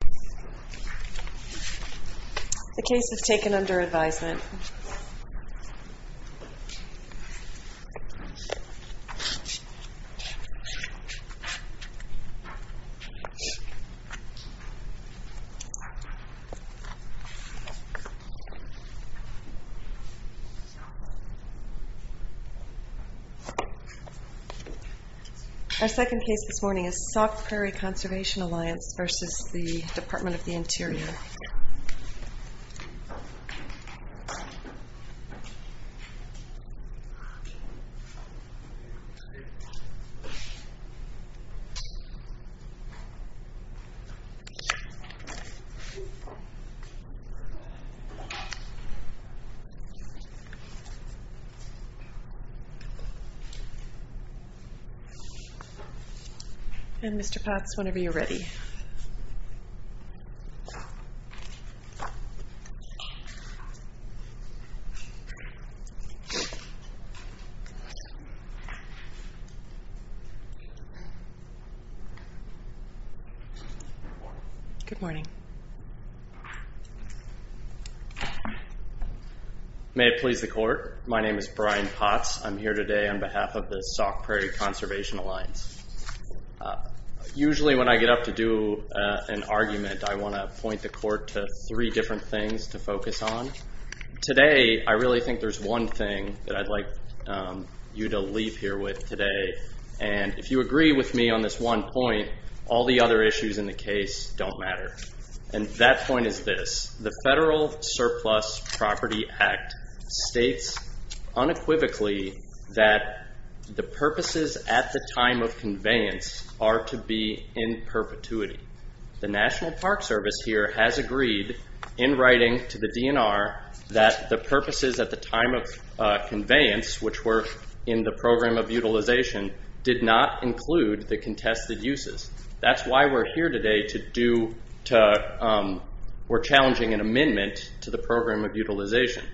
The case was taken under advisement. Our second case this morning is Sauk Prairie Conservation Alliance v. Department of the U.S. Department of the Interior, and I'm here today on behalf of the Sauk Prairie Conservation Alliance. Usually when I get up to do an argument, I want to point the court to three different things to focus on. Today, I really think there's one thing that I'd like you to leave here with today, and if you agree with me on this one point, all the other issues in the case don't matter. That point is this. The Federal Surplus Property Act states unequivocally that the purposes at the time of conveyance are to be in perpetuity. The National Park Service here has agreed in writing to the DNR that the purposes at the time of conveyance, which were in the program of utilization, did not include the contested uses. That's why we're here today to do... We're challenging an amendment to the program of utilization.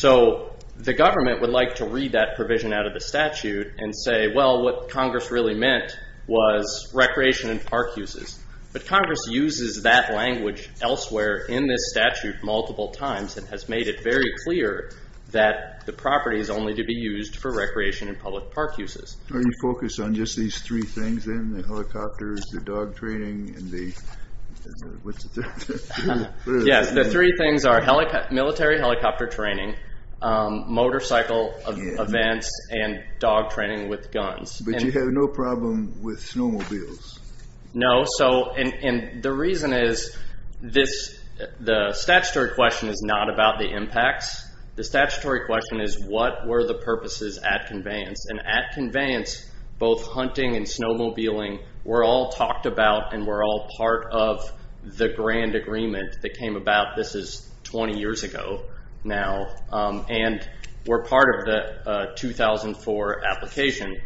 The government would like to read that provision out of the statute and say, well, what Congress really meant was recreation and park uses, but Congress uses that language elsewhere in this statute multiple times and has made it very clear that the property is only to be used for recreation and public park uses. Are you focused on just these three things then? The helicopters, the dog training, and the... What's the third? Yes, the three things are military helicopter training, motorcycle events, and dog training with guns. But you have no problem with snowmobiles? No. The reason is, the statutory question is not about the impacts. The statutory question is, what were the purposes at conveyance? At conveyance, both hunting and snowmobiling were all talked about and were all part of the grand agreement that came about... This is 20 years ago now. We're part of the 2004 application.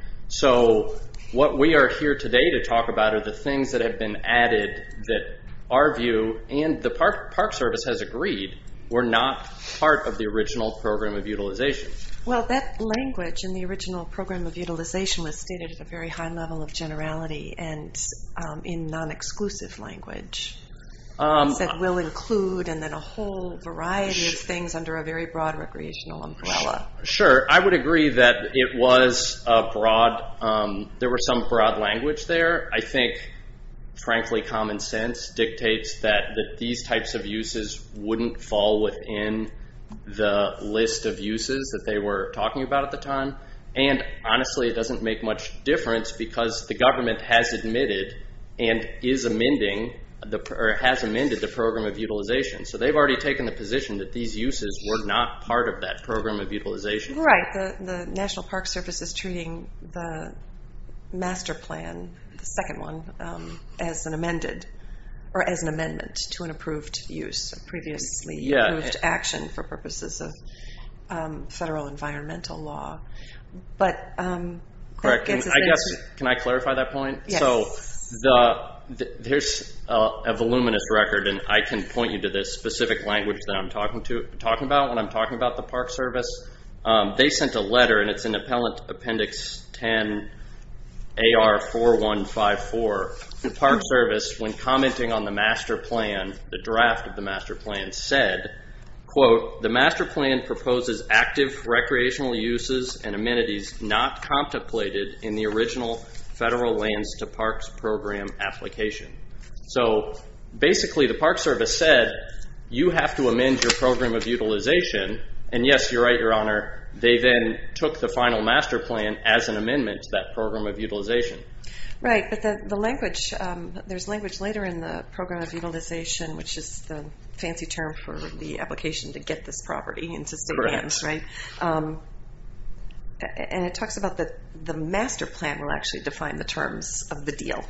What we are here today to talk about are the things that have been added that our view and the Park Service has agreed were not part of the original program of utilization. That language in the original program of utilization was stated at a very high level of generality and in non-exclusive language. It said, we'll include, and then a whole variety of things under a very broad recreational umbrella. Sure. I would agree that it was a broad... There were some broad language there. I think, frankly, common sense dictates that these types of uses wouldn't fall within the list of uses that they were talking about at the time, and honestly, it doesn't make much difference because the government has admitted and has amended the program of utilization. They've already taken the position that these uses were not part of that program of utilization. Right. The National Park Service is treating the master plan, the second one, as an amendment to an approved use of previously approved action for purposes of federal environmental law. Correct. I guess, can I clarify that point? Yes. There's a voluminous record, and I can point you to this specific language that I'm talking about when I'm talking about the Park Service. They sent a letter, and it's in Appendix 10 AR4154. The Park Service, when commenting on the master plan, the draft of the master plan, said, quote, the master plan proposes active recreational uses and amenities not contemplated in the original federal lands to parks program application. So, basically, the Park Service said, you have to amend your program of utilization, and yes, you're right, your honor, they then took the final master plan as an amendment to that program of utilization. Right, but the language, there's language later in the program of utilization, which is the fancy term for the application to get this property and to submit it, right? Correct. And it talks about the master plan will actually define the terms of the deal,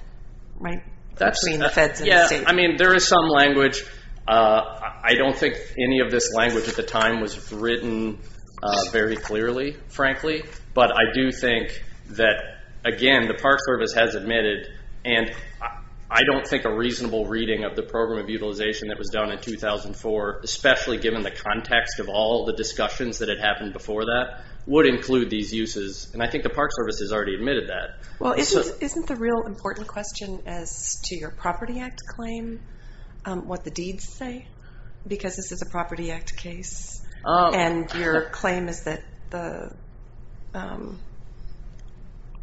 right, between the feds and the state. Yeah, I mean, there is some language. I don't think any of this language at the time was written very clearly, frankly, but I do think that, again, the Park Service has admitted, and I don't think a reasonable reading of the program of utilization that was done in 2004, especially given the context of all the discussions that had happened before that, would include these uses, and I think the Park Service has already admitted that. Well, isn't the real important question as to your Property Act claim what the deeds say, because this is a Property Act case, and your claim is that the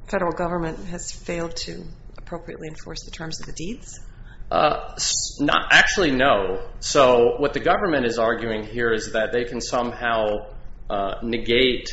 federal government has failed to appropriately enforce the terms of the deeds? Actually, no. So what the government is arguing here is that they can somehow negate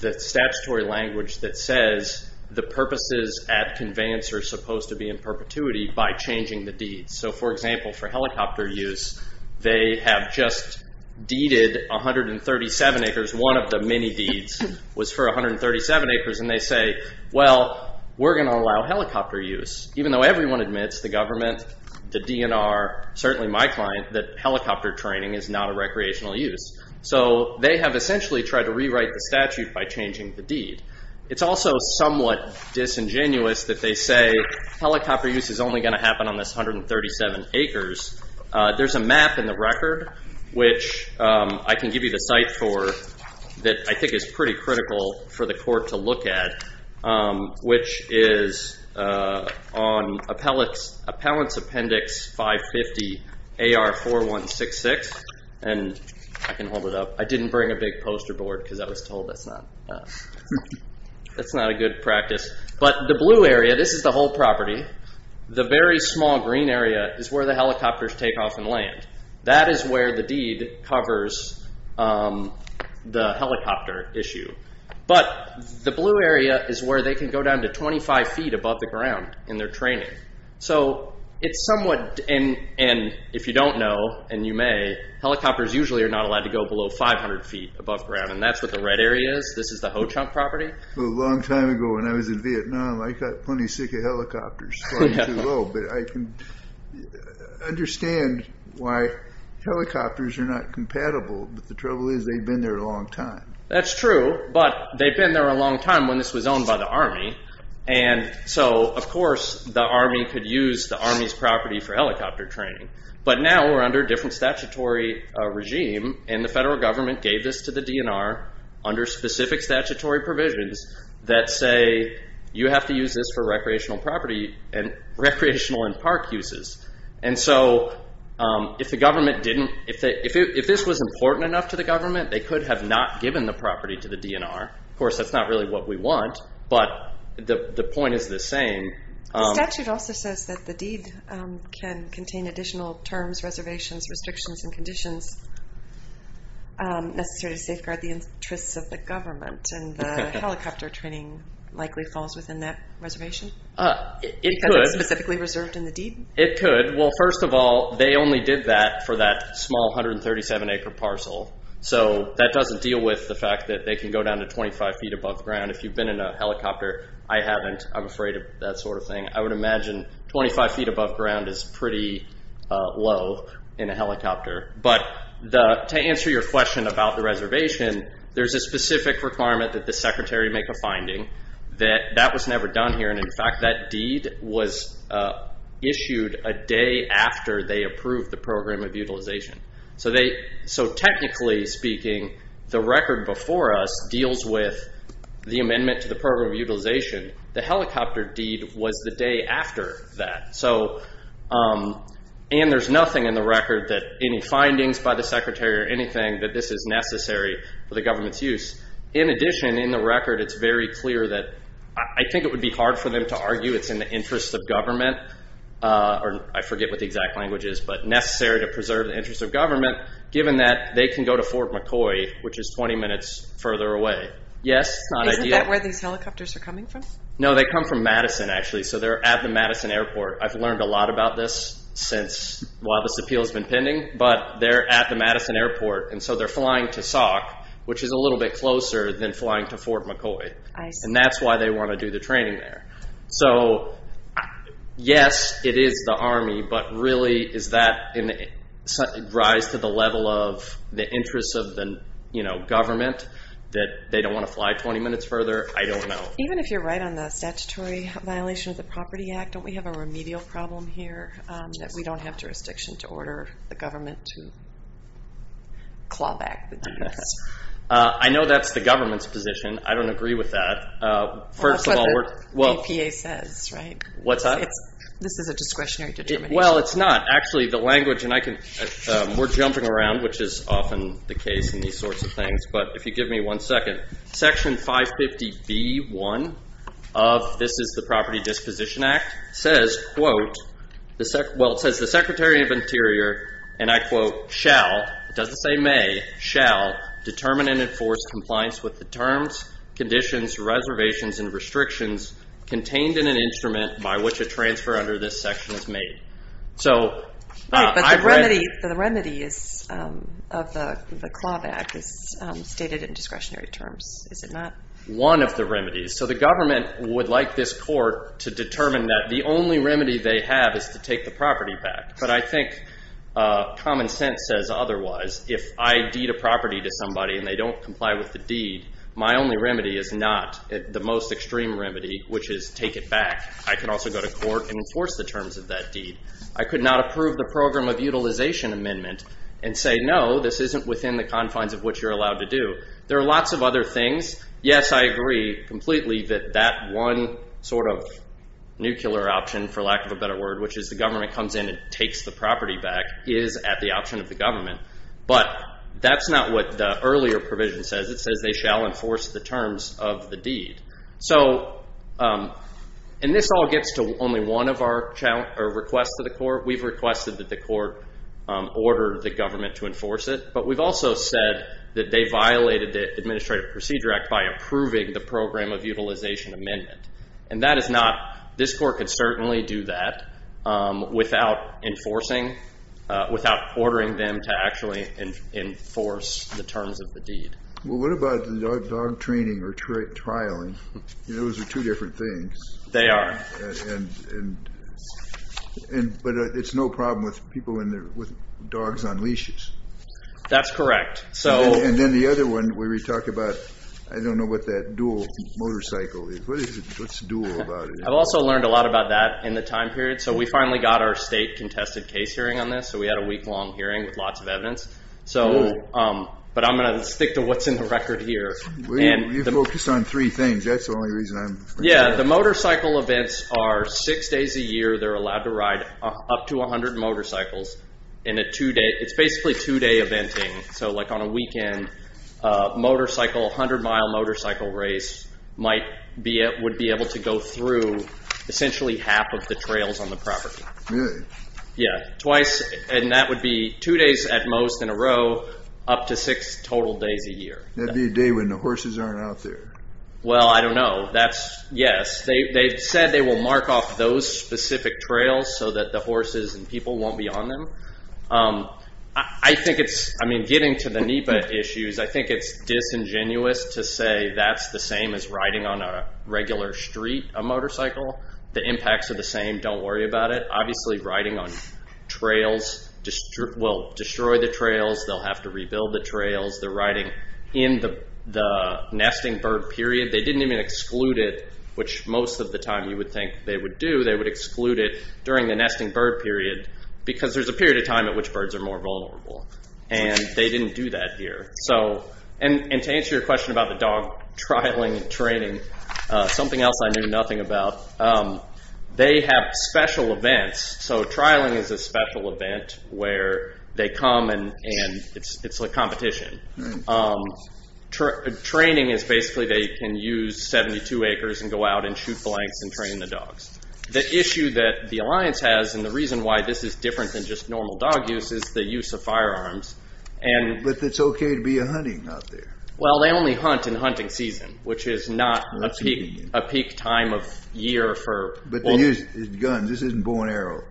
the statutory language that says the purposes at conveyance are supposed to be in perpetuity by changing the deeds. So, for example, for helicopter use, they have just deeded 137 acres. One of the many deeds was for 137 acres, and they say, well, we're going to allow helicopter use, even though everyone admits, the government, the DNR, certainly my client, that helicopter training is not a recreational use. So they have essentially tried to rewrite the statute by changing the deed. It's also somewhat disingenuous that they say helicopter use is only going to happen on this 137 acres. There's a map in the record, which I can give you the site for, that I think is pretty critical for the court to look at, which is on Appellant's Appendix 550 AR4166, and I can hold it up. I didn't bring a big poster board, because I was told that's not a good practice. But the blue area, this is the whole property. The very small green area is where the helicopters take off and land. That is where the deed covers the helicopter issue. But the blue area is where they can go down to 25 feet above the ground in their training. So it's somewhat, and if you don't know, and you may, helicopters usually are not allowed to go below 500 feet above ground, and that's what the red area is. This is the Ho-Chunk property. A long time ago, when I was in Vietnam, I got plenty sick of helicopters, but I can understand why helicopters are not compatible, but the trouble is they've been there a long time. That's true, but they've been there a long time when this was owned by the Army, and so of course the Army could use the Army's property for helicopter training. But now we're under a different statutory regime, and the federal government gave this to the DNR under specific statutory provisions that say you have to use this for recreational property and recreational and park uses. And so if the government didn't, if this was important enough to the government, they could have not given the property to the DNR. Of course, that's not really what we want, but the point is the same. The statute also says that the deed can contain additional terms, reservations, restrictions, and conditions necessary to safeguard the interests of the government, and the helicopter training likely falls within that reservation because it's specifically reserved in the deed? It could. Well, first of all, they only did that for that small 137-acre parcel, so that doesn't deal with the fact that they can go down to 25 feet above ground. If you've been in a helicopter, I haven't. I'm afraid of that sort of thing. I would imagine 25 feet above ground is pretty low in a helicopter, but to answer your question about the reservation, there's a specific requirement that the secretary make a finding that that was never done here, and in fact, that deed was issued a day after they approved the program of utilization. So technically speaking, the record before us deals with the amendment to the program of utilization. The helicopter deed was the day after that, and there's nothing in the record that any is necessary for the government's use. In addition, in the record, it's very clear that I think it would be hard for them to argue it's in the interest of government, or I forget what the exact language is, but necessary to preserve the interest of government, given that they can go to Fort McCoy, which is 20 minutes further away. Yes? Not ideal? Isn't that where these helicopters are coming from? No, they come from Madison, actually, so they're at the Madison Airport. I've learned a lot about this since while this appeal has been pending, but they're at the Madison Airport, and so they're flying to Sauk, which is a little bit closer than flying to Fort McCoy, and that's why they want to do the training there. So yes, it is the Army, but really, is that a rise to the level of the interest of the government that they don't want to fly 20 minutes further? I don't know. Even if you're right on the statutory violation of the Property Act, don't we have a remedial problem here, that we don't have jurisdiction to order the government to claw back? I know that's the government's position. I don't agree with that. Well, that's what the APA says, right? What's that? This is a discretionary determination. Well, it's not. Actually, the language, and we're jumping around, which is often the case in these sorts of things, but if you give me one second, Section 550B1 of this is the Property Disposition Act, says, quote, well, it says, the Secretary of Interior, and I quote, shall, it doesn't say may, shall determine and enforce compliance with the terms, conditions, reservations, and restrictions contained in an instrument by which a transfer under this section is made. So, I've read- Right, but the remedy of the claw back is stated in discretionary terms, is it not? One of the remedies. So, the government would like this court to determine that the only remedy they have is to take the property back, but I think common sense says otherwise. If I deed a property to somebody and they don't comply with the deed, my only remedy is not the most extreme remedy, which is take it back. I can also go to court and enforce the terms of that deed. I could not approve the Program of Utilization Amendment and say, no, this isn't within the confines of what you're allowed to do. There are lots of other things. Yes, I agree completely that that one sort of nuclear option, for lack of a better word, which is the government comes in and takes the property back, is at the option of the government, but that's not what the earlier provision says. It says they shall enforce the terms of the deed. So, and this all gets to only one of our requests to the court. We've requested that the court order the government to enforce it, but we've also said that they should act by approving the Program of Utilization Amendment, and that is not, this court could certainly do that without enforcing, without ordering them to actually enforce the terms of the deed. Well, what about the dog training or trialing? Those are two different things. They are. But it's no problem with people with dogs on leashes. That's correct. And then the other one, where we talk about, I don't know what that dual motorcycle is. What's dual about it? I've also learned a lot about that in the time period. So we finally got our state contested case hearing on this, so we had a week-long hearing with lots of evidence. But I'm going to stick to what's in the record here. Well, you focused on three things. That's the only reason I'm... Yeah, the motorcycle events are six days a year. They're allowed to ride up to 100 motorcycles in a two-day, it's basically two-day eventing. So like on a weekend, a motorcycle, a 100-mile motorcycle race might be, would be able to go through essentially half of the trails on the property. Really? Yeah, twice. And that would be two days at most in a row, up to six total days a year. That'd be a day when the horses aren't out there. Well, I don't know. That's... Yes. They've said they will mark off those specific trails so that the horses and people won't be on them. I think it's, I mean, getting to the NEPA issues, I think it's disingenuous to say that's the same as riding on a regular street, a motorcycle. The impacts are the same, don't worry about it. Obviously riding on trails will destroy the trails, they'll have to rebuild the trails. The riding in the nesting bird period, they didn't even exclude it, which most of the time you would think they would do, they would exclude it during the nesting bird period because there's a period of time at which birds are more vulnerable and they didn't do that here. So, and to answer your question about the dog trialing and training, something else I knew nothing about, they have special events. So trialing is a special event where they come and it's like competition. Training is basically they can use 72 acres and go out and shoot blanks and train the dogs. The issue that the alliance has and the reason why this is different than just normal dog use is the use of firearms. But it's okay to be out hunting out there. Well they only hunt in hunting season, which is not a peak time of year for... But they use guns, this isn't bow and arrow.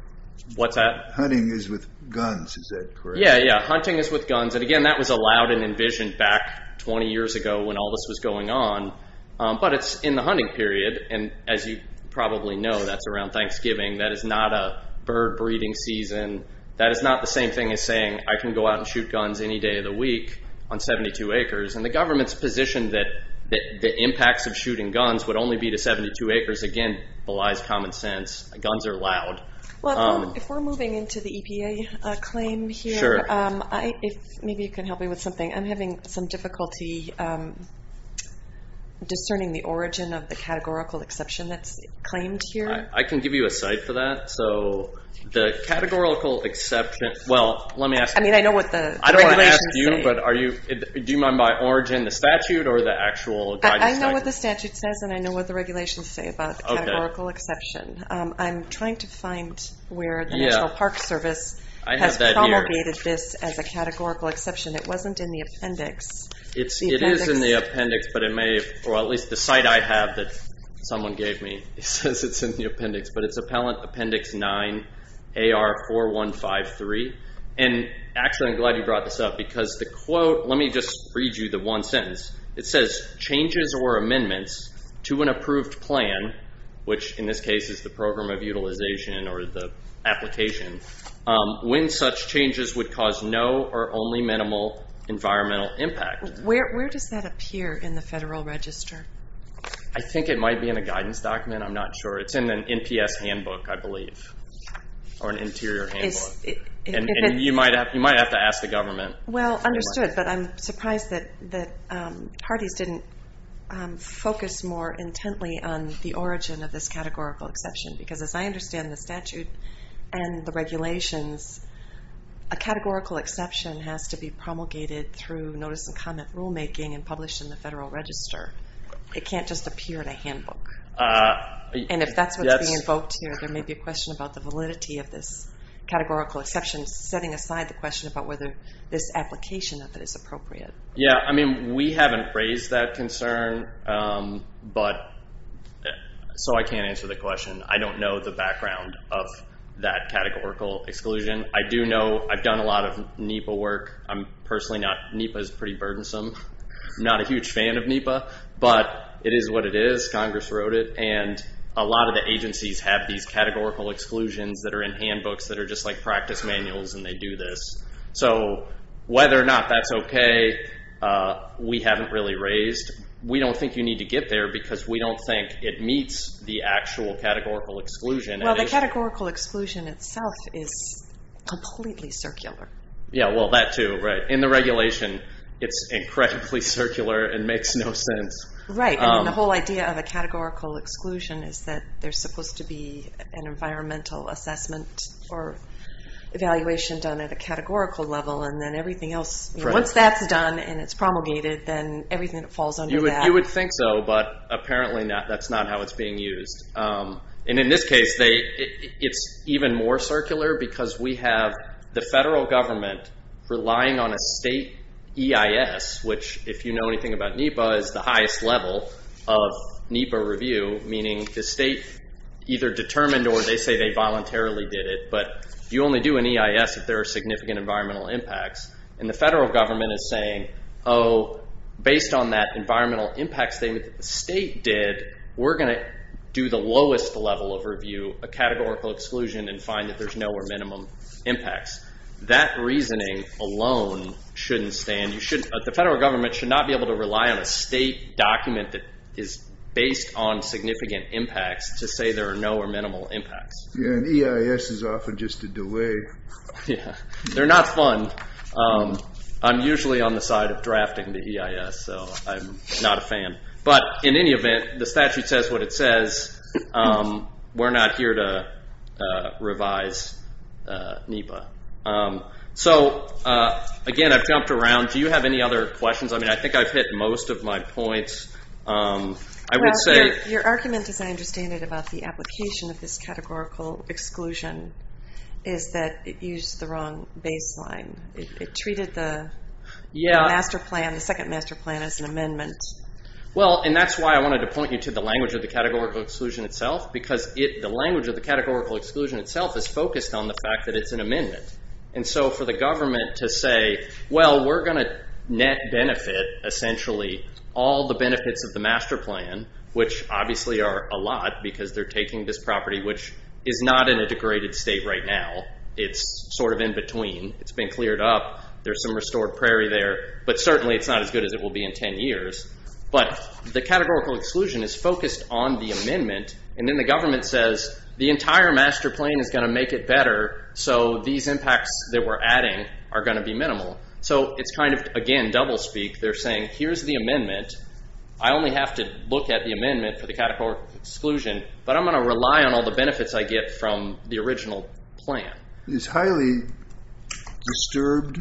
What's that? Hunting is with guns, is that correct? Yeah, yeah, hunting is with guns. And again, that was allowed and envisioned back 20 years ago when all this was going on. But it's in the hunting period and as you probably know, that's around Thanksgiving. That is not a bird breeding season. That is not the same thing as saying, I can go out and shoot guns any day of the week on 72 acres. And the government's position that the impacts of shooting guns would only be to 72 acres, again belies common sense. Guns are allowed. Well, if we're moving into the EPA claim here, maybe you can help me with something. I'm having some difficulty discerning the origin of the categorical exception that's claimed here. I can give you a site for that. So the categorical exception, well, let me ask you. I mean, I know what the regulations say. I don't want to ask you, but do you mind by origin, the statute, or the actual guidance site? I know what the statute says and I know what the regulations say about the categorical exception. I'm trying to find where the National Park Service has promulgated this as a categorical exception. It wasn't in the appendix. It is in the appendix, but it may, or at least the site I have that someone gave me says it's in the appendix, but it's Appellant Appendix 9 AR4153. And actually, I'm glad you brought this up because the quote, let me just read you the one sentence. It says, changes or amendments to an approved plan, which in this case is the program of environmental impact. Where does that appear in the Federal Register? I think it might be in a guidance document. I'm not sure. It's in an NPS handbook, I believe, or an interior handbook. You might have to ask the government. Well, understood, but I'm surprised that parties didn't focus more intently on the origin of this categorical exception because as I understand the statute and the regulations, a categorical exception has to be promulgated through notice and comment rulemaking and published in the Federal Register. It can't just appear in a handbook. And if that's what's being invoked here, there may be a question about the validity of this categorical exception, setting aside the question about whether this application of it is appropriate. Yeah, I mean, we haven't raised that concern, so I can't answer the question. I don't know the background of that categorical exclusion. I do know I've done a lot of NEPA work. I'm personally not... NEPA is pretty burdensome. I'm not a huge fan of NEPA, but it is what it is, Congress wrote it, and a lot of the agencies have these categorical exclusions that are in handbooks that are just like practice manuals and they do this. So whether or not that's okay, we haven't really raised. We don't think you need to get there because we don't think it meets the actual categorical exclusion. Well, the categorical exclusion itself is completely circular. Yeah, well, that too, right. In the regulation, it's incredibly circular and makes no sense. Right, and then the whole idea of a categorical exclusion is that there's supposed to be an environmental assessment or evaluation done at a categorical level, and then everything else... Once that's done and it's promulgated, then everything that falls under that... You would think so, but apparently that's not how it's being used. And in this case, it's even more circular because we have the federal government relying on a state EIS, which if you know anything about NEPA, is the highest level of NEPA review, meaning the state either determined or they say they voluntarily did it, but you only do an EIS if there are significant environmental impacts. And the federal government is saying, oh, based on that environmental impact statement that the state did, we're going to do the lowest level of review, a categorical exclusion, and find that there's no or minimum impacts. That reasoning alone shouldn't stand. The federal government should not be able to rely on a state document that is based on significant impacts to say there are no or minimal impacts. Yeah, and EIS is often just a delay. Yeah, they're not fun. I'm usually on the side of drafting the EIS, so I'm not a fan. But in any event, the statute says what it says. We're not here to revise NEPA. So again, I've jumped around. Do you have any other questions? I mean, I think I've hit most of my points. Your argument, as I understand it, about the application of this categorical exclusion is that it used the wrong baseline. It treated the master plan, the second master plan, as an amendment. Well, and that's why I wanted to point you to the language of the categorical exclusion itself, because the language of the categorical exclusion itself is focused on the fact that it's an amendment. And so for the government to say, well, we're going to net benefit, essentially, all the benefits of the master plan, which obviously are a lot, because they're taking this property, which is not in a degraded state right now. It's sort of in between. It's been cleared up. There's some restored prairie there. But certainly, it's not as good as it will be in 10 years. But the categorical exclusion is focused on the amendment. And then the government says, the entire master plan is going to make it better, so these impacts that we're adding are going to be minimal. So it's kind of, again, doublespeak. They're saying, here's the amendment. I only have to look at the amendment for the categorical exclusion, but I'm going to rely on all the benefits I get from the original plan. Is highly disturbed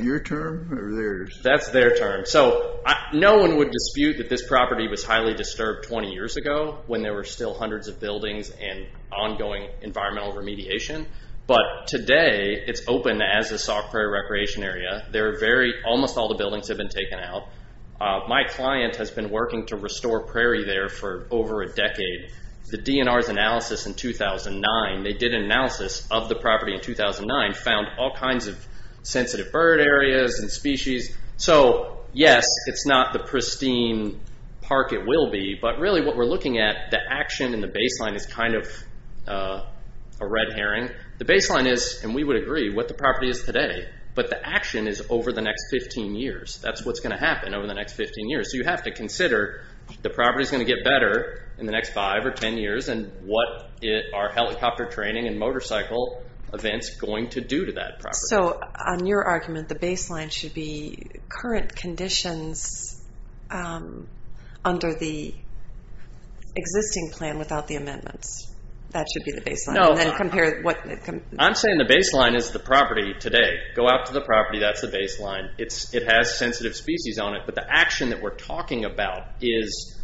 your term or theirs? That's their term. So no one would dispute that this property was highly disturbed 20 years ago, when there were still hundreds of buildings and ongoing environmental remediation. But today, it's open as a soft prairie recreation area. Almost all the buildings have been taken out. My client has been working to restore prairie there for over a decade. The DNR's analysis in 2009, they did an analysis of the property in 2009, found all kinds of sensitive bird areas and species. So yes, it's not the pristine park it will be. But really, what we're looking at, the action and the baseline is kind of a red herring. The baseline is, and we would agree, what the property is today. But the action is over the next 15 years. That's what's going to happen over the next 15 years. So you have to consider, the property's going to get better in the next 5 or 10 years, and what are helicopter training and motorcycle events going to do to that property? So on your argument, the baseline should be current conditions under the existing plan without the amendments. That should be the baseline. No. And then compare what... I'm saying the baseline is the property today. Go out to the property, that's the baseline. It has sensitive species on it. But the action that we're talking about is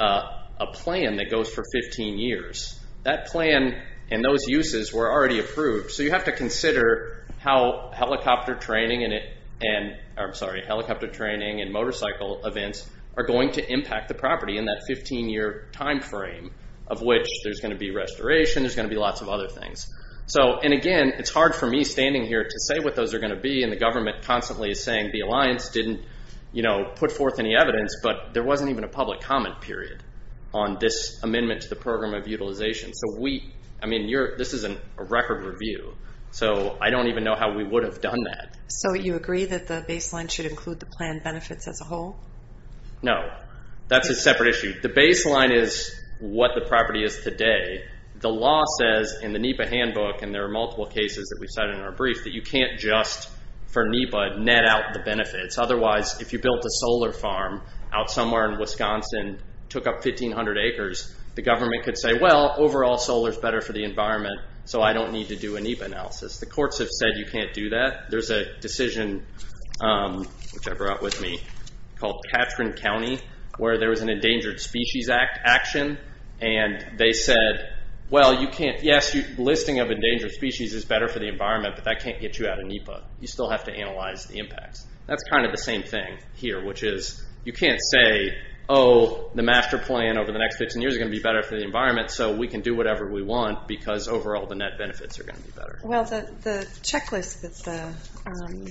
a plan that goes for 15 years. That plan and those uses were already approved. So you have to consider how helicopter training and motorcycle events are going to impact the property in that 15-year time frame, of which there's going to be restoration, there's going to be lots of other things. So, and again, it's hard for me standing here to say what those are going to be, and the government constantly is saying the alliance didn't put forth any evidence, but there wasn't even a public comment period on this amendment to the program of utilization. So we, I mean, this is a record review. So I don't even know how we would have done that. So you agree that the baseline should include the plan benefits as a whole? No. That's a separate issue. The baseline is what the property is today. The law says in the NEPA handbook, and there are multiple cases that we've cited in our brief, that you can't just, for NEPA, net out the benefits. Otherwise, if you built a solar farm out somewhere in Wisconsin, took up 1,500 acres, the government could say, well, overall, solar's better for the environment, so I don't need to do a NEPA analysis. The courts have said you can't do that. There's a decision, which I brought with me, called Katrin County, where there was an Endangered Species Act action, and they said, well, you can't, yes, listing of endangered species is better for the environment, but that can't get you out of NEPA. You still have to analyze the impacts. That's kind of the same thing here, which is, you can't say, oh, the master plan over the next 15 years is going to be better for the environment, so we can do whatever we want, because overall, the net benefits are going to be better. Well, the checklist that the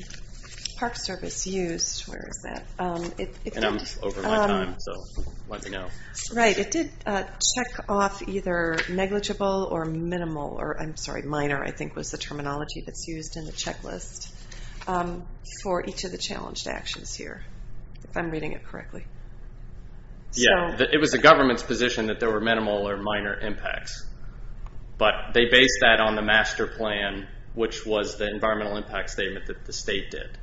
Park Service used, where is that? And I'm over my time, so let me know. Right, it did check off either negligible or minimal, or I'm sorry, minor, I think was the terminology that's used in the checklist, for each of the challenged actions here, if I'm reading it correctly. Yeah, it was the government's position that there were minimal or minor impacts, but they based that on the master plan, which was the environmental impact statement that the state did.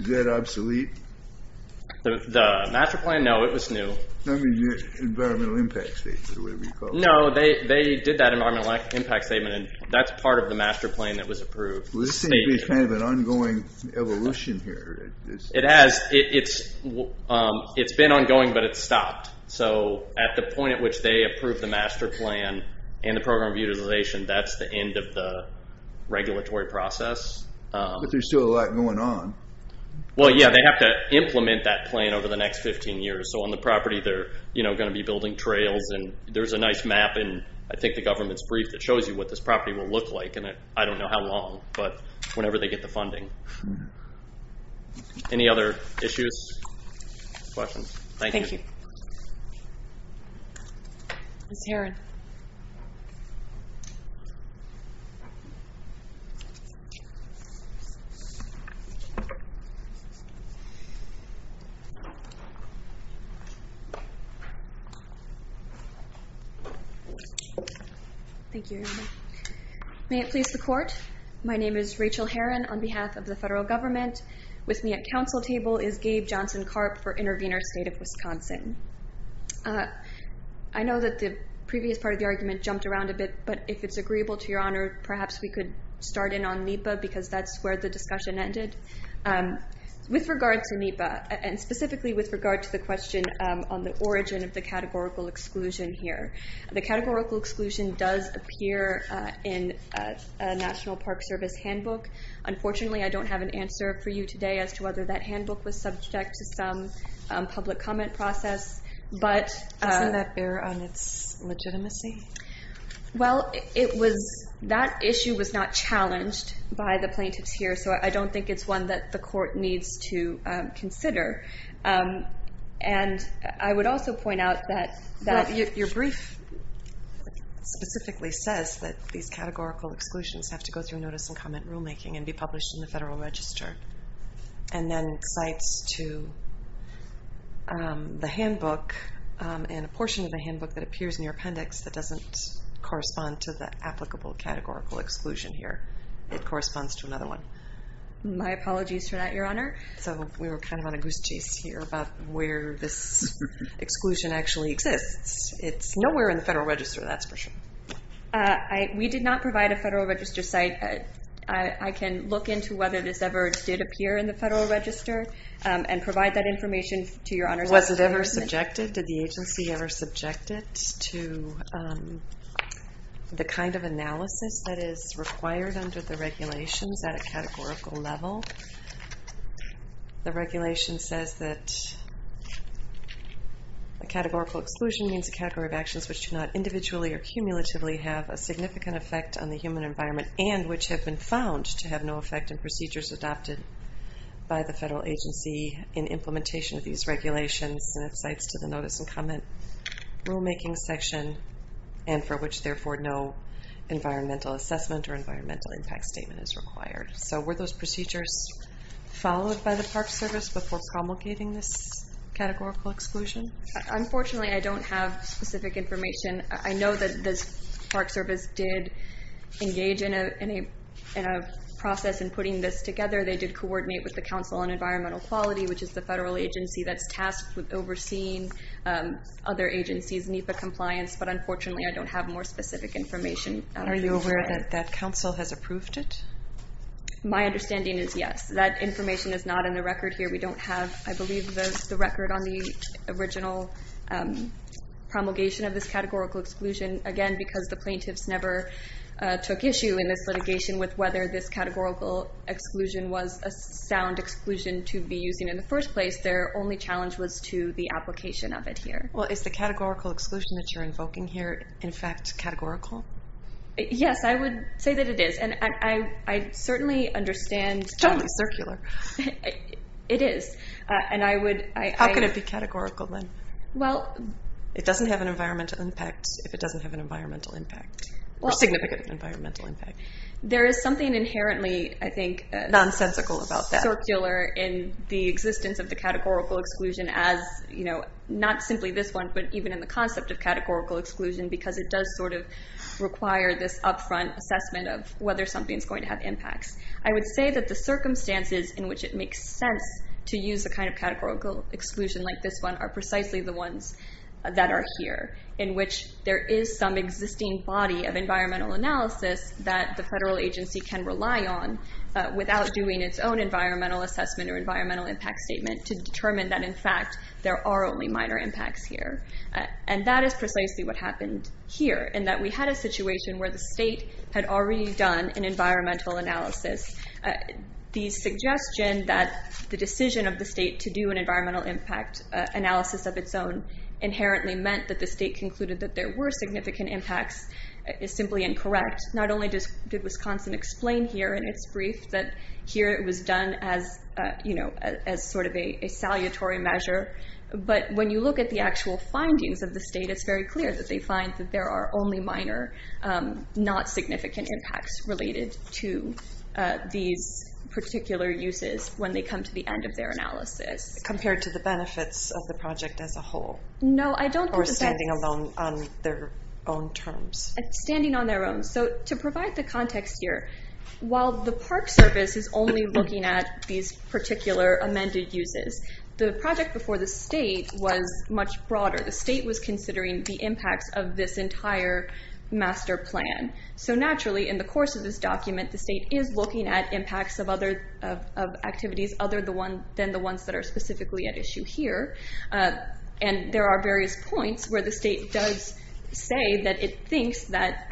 Is that obsolete? The master plan, no, it was new. I mean, the environmental impact statement, or whatever you call it. No, they did that environmental impact statement, and that's part of the master plan that was approved. Well, this seems to be kind of an ongoing evolution here. It has. It's been ongoing, but it's stopped. So, at the point at which they approved the master plan and the program of utilization, that's the end of the regulatory process. But there's still a lot going on. Well, yeah, they have to implement that plan over the next 15 years, so on the property, they're going to be building trails, and there's a nice map, and I think the government's brief that shows you what this property will look like, and I don't know how long, but whenever they get the funding. Any other issues, questions? Thank you. Ms. Herron. Thank you, everybody. May it please the court. My name is Rachel Herron on behalf of the federal government. With me at council table is Gabe Johnson-Karp for Intervenor State of Wisconsin. I know that the previous part of the argument jumped around a bit, but if it's agreeable to your honor, perhaps we could start in on NEPA, because that's where the discussion ended. With regard to NEPA, and specifically with regard to the question on the origin of the categorical exclusion here, the categorical exclusion does appear in a National Park Service handbook. Unfortunately, I don't have an answer for you today as to whether that handbook was subject to some public comment process, but... Isn't that error on its legitimacy? Well, that issue was not challenged by the plaintiffs here, so I don't think it's one that the court needs to consider. And I would also point out that... Your brief specifically says that these categorical exclusions have to go through notice and comment rulemaking and be published in the federal register. And then it cites to the handbook, and a portion of the handbook that appears in your appendix that doesn't correspond to the applicable categorical exclusion here. It corresponds to another one. My apologies for that, your honor. So we were kind of on a goose chase here about where this exclusion actually exists. It's nowhere in the federal register, that's for sure. We did not provide a federal register site. I can look into whether this ever did appear in the federal register and provide that information to your honors. Was it ever subjected? Did the agency ever subject it to the kind of analysis that is required under the regulations at a categorical level? The regulation says that a categorical exclusion means a category of actions which do not individually or cumulatively have a significant effect on the human environment and which have been found to have no effect in procedures adopted by the federal agency in implementation of these regulations. And it cites to the notice and comment rulemaking section and for which therefore no environmental assessment or environmental impact statement is required. So were those procedures followed by the Park Service before promulgating this categorical exclusion? Unfortunately, I don't have specific information. I know that the Park Service did engage in a process in putting this together. They did coordinate with the Council on Environmental Quality which is the federal agency that's tasked with overseeing other agencies' NEPA compliance. But unfortunately, I don't have more specific information. Are you aware that that council has approved it? My understanding is yes. That information is not in the record here. We don't have, I believe, the record on the original promulgation of this categorical exclusion. Again, because the plaintiffs never took issue in this litigation with whether this categorical exclusion was a sound exclusion to be using in the first place, their only challenge was to the application of it here. Well, is the categorical exclusion that you're invoking here in fact categorical? Yes, I would say that it is. I certainly understand... It's totally circular. It is, and I would... How could it be categorical then? Well... It doesn't have an environmental impact if it doesn't have an environmental impact or significant environmental impact. There is something inherently, I think... Nonsensical about that. ...circular in the existence of the categorical exclusion as not simply this one but even in the concept of categorical exclusion because it does sort of require this upfront assessment of whether something's going to have impacts. I would say that the circumstances in which it makes sense to use a kind of categorical exclusion like this one are precisely the ones that are here in which there is some existing body of environmental analysis that the federal agency can rely on without doing its own environmental assessment or environmental impact statement to determine that in fact there are only minor impacts here. And that is precisely what happened here in that we had a situation where the state had already done an environmental analysis. The suggestion that the decision of the state to do an environmental impact analysis of its own inherently meant that the state concluded that there were significant impacts is simply incorrect. Not only did Wisconsin explain here in its brief that here it was done as sort of a salutary measure but when you look at the actual findings of the state it's very clear that they find that there are only minor not significant impacts related to these particular uses when they come to the end of their analysis. Compared to the benefits of the project as a whole? No I don't think that's. Or standing alone on their own terms? Standing on their own. So to provide the context here while the Park Service is only looking at these particular amended uses the project before the state was much broader. The state was considering the impacts of this entire master plan. So naturally in the course of this document the state is looking at impacts of other activities other than the ones that are specifically at issue here. And there are various points where the state does say that it thinks that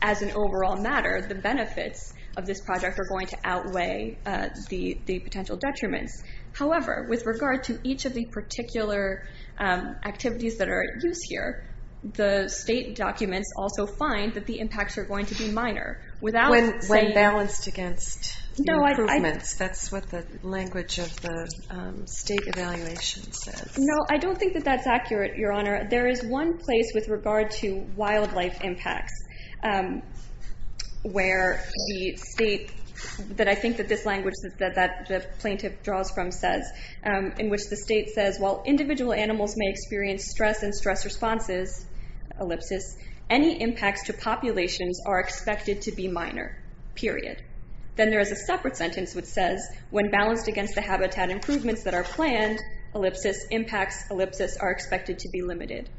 as an overall matter the benefits of this project are going to outweigh the potential detriments. However with regard to each of the particular activities that are at use here the state documents also find that the impacts are going to be minor. When balanced against improvements. That's what the language of the state evaluation says. No I don't think that that's accurate Your Honor. There is one place with regard to wildlife impacts where the state that I think that this language that the plaintiff draws from says in which the state says while individual animals may experience stress and stress responses ellipsis any impacts to populations are expected to be minor period. Then there is a separate sentence which says when balanced against the habitat improvements that are planned ellipsis impacts ellipsis are expected to be limited.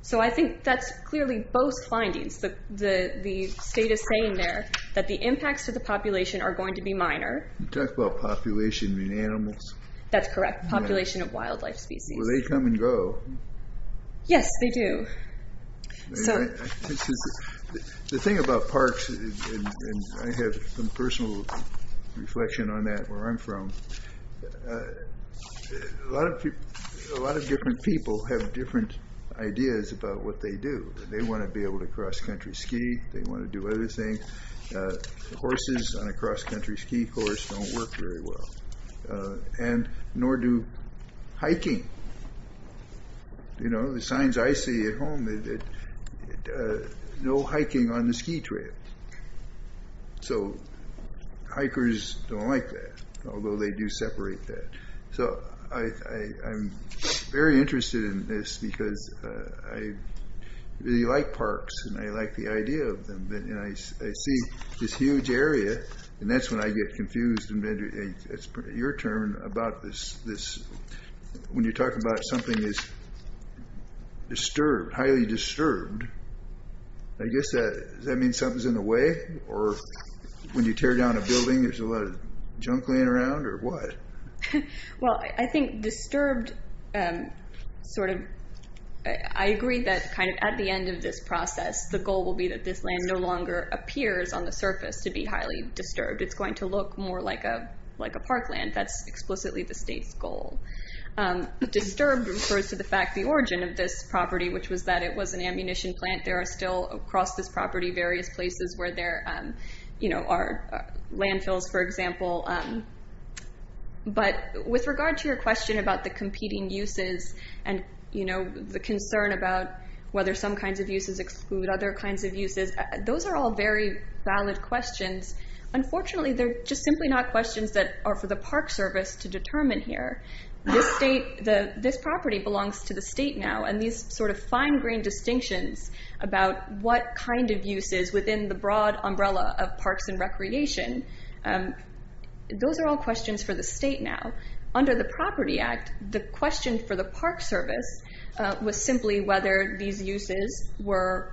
So I think that's clearly both findings. The state is saying there that the impacts to the population are going to be minor. You talk about population in animals. That's correct population of wildlife species. They come and go. Yes they do. The thing about parks and I have some personal reflection on that where I'm from a lot of people a lot of different people have different ideas about what they do. They want to be able to cross country ski. They want to do other things. Horses on a cross country ski course don't work very well. And nor do hiking. You know the signs I see at home is that no hiking on the ski trail. So hikers don't like that. Although they do separate that. So I'm very interested in this because I really like parks and I like the idea of them. I see this huge area and that's when I get confused and then it's your turn about this. When you talk about something is disturbed, highly disturbed, I guess that means something's in the way or when you tear down a building there's a lot of junk laying around or what? Well I think disturbed sort of I agree that kind of at the end of this process the goal will be that this land no longer appears on the surface to be highly disturbed. It's going to look more like a park land. That's explicitly the state's goal. Disturbed refers to the fact the origin of this property which was that it was an ammunition plant. There are still across this property various places where there are landfills for example. But with regard to your question about the competing uses and the concern about whether some kinds of uses exclude other kinds of uses, those are all very valid questions. Unfortunately they're just simply not questions that are for the Park Service to determine here. This property belongs to the state now and these sort of fine grained distinctions about what kind of uses within the broad umbrella of parks and recreation, those are all questions for the state now. Under the Property Act the question for the Park Service was simply whether these uses were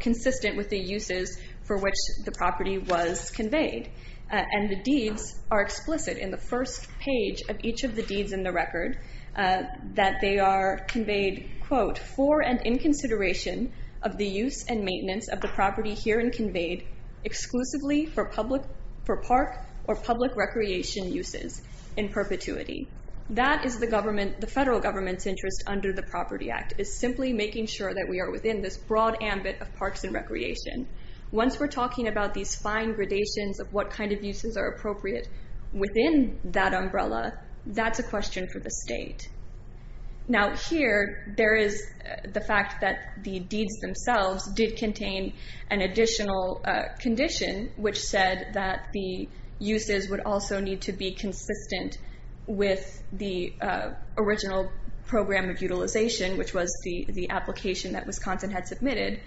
consistent with the uses for which the property was conveyed. And the deeds are explicit in the first page of each of the deeds in the record that they are conveyed quote for and in consideration of the use and maintenance of the property here and conveyed exclusively for park or public recreation uses in perpetuity. That is the federal government's interest under the Property Act. It's simply making sure that we are within this broad ambit of parks and recreation. Once we're talking about these fine gradations of what kind of uses are appropriate within that umbrella, that's a question for the state. Now here there is the fact that the deeds themselves did contain an additional condition which said that the uses would also need to be consistent with the original program of utilization which was the application that Wisconsin had submitted.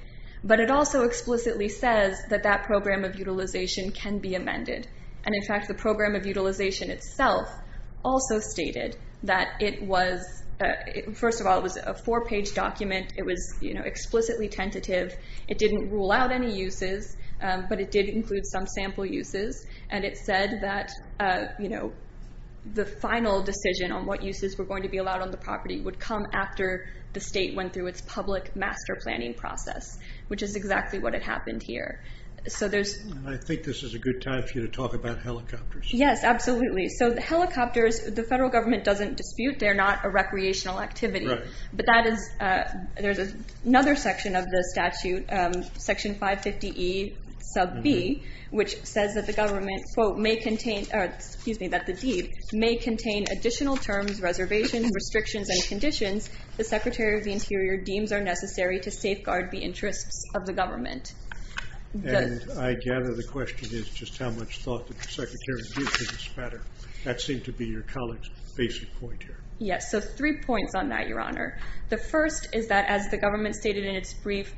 But it also explicitly says that that program of utilization can be amended. And in fact the program of utilization itself also stated that it was, first of all it was a four page document. It was explicitly tentative. It didn't rule out any uses but it did include some sample uses. And it said that the final decision on what uses were going to be allowed on the property would come after the state went through its public master planning process which is exactly what had happened here. So there's. I think this is a good time for you to talk about helicopters. Yes, absolutely. So the helicopters, the federal government doesn't dispute. They're not a recreational activity. But that is, there's another section of the statute, section 550E sub B which says that the government quote may contain, excuse me, that the deed may contain additional terms, reservations, restrictions, and conditions the Secretary of the Interior deems are necessary to safeguard the interests of the government. And I gather the question is just how much thought did the Secretary give to this matter? That seemed to be your colleague's basic point here. Yes, so three points on that, Your Honor. The first is that as the government stated in its brief,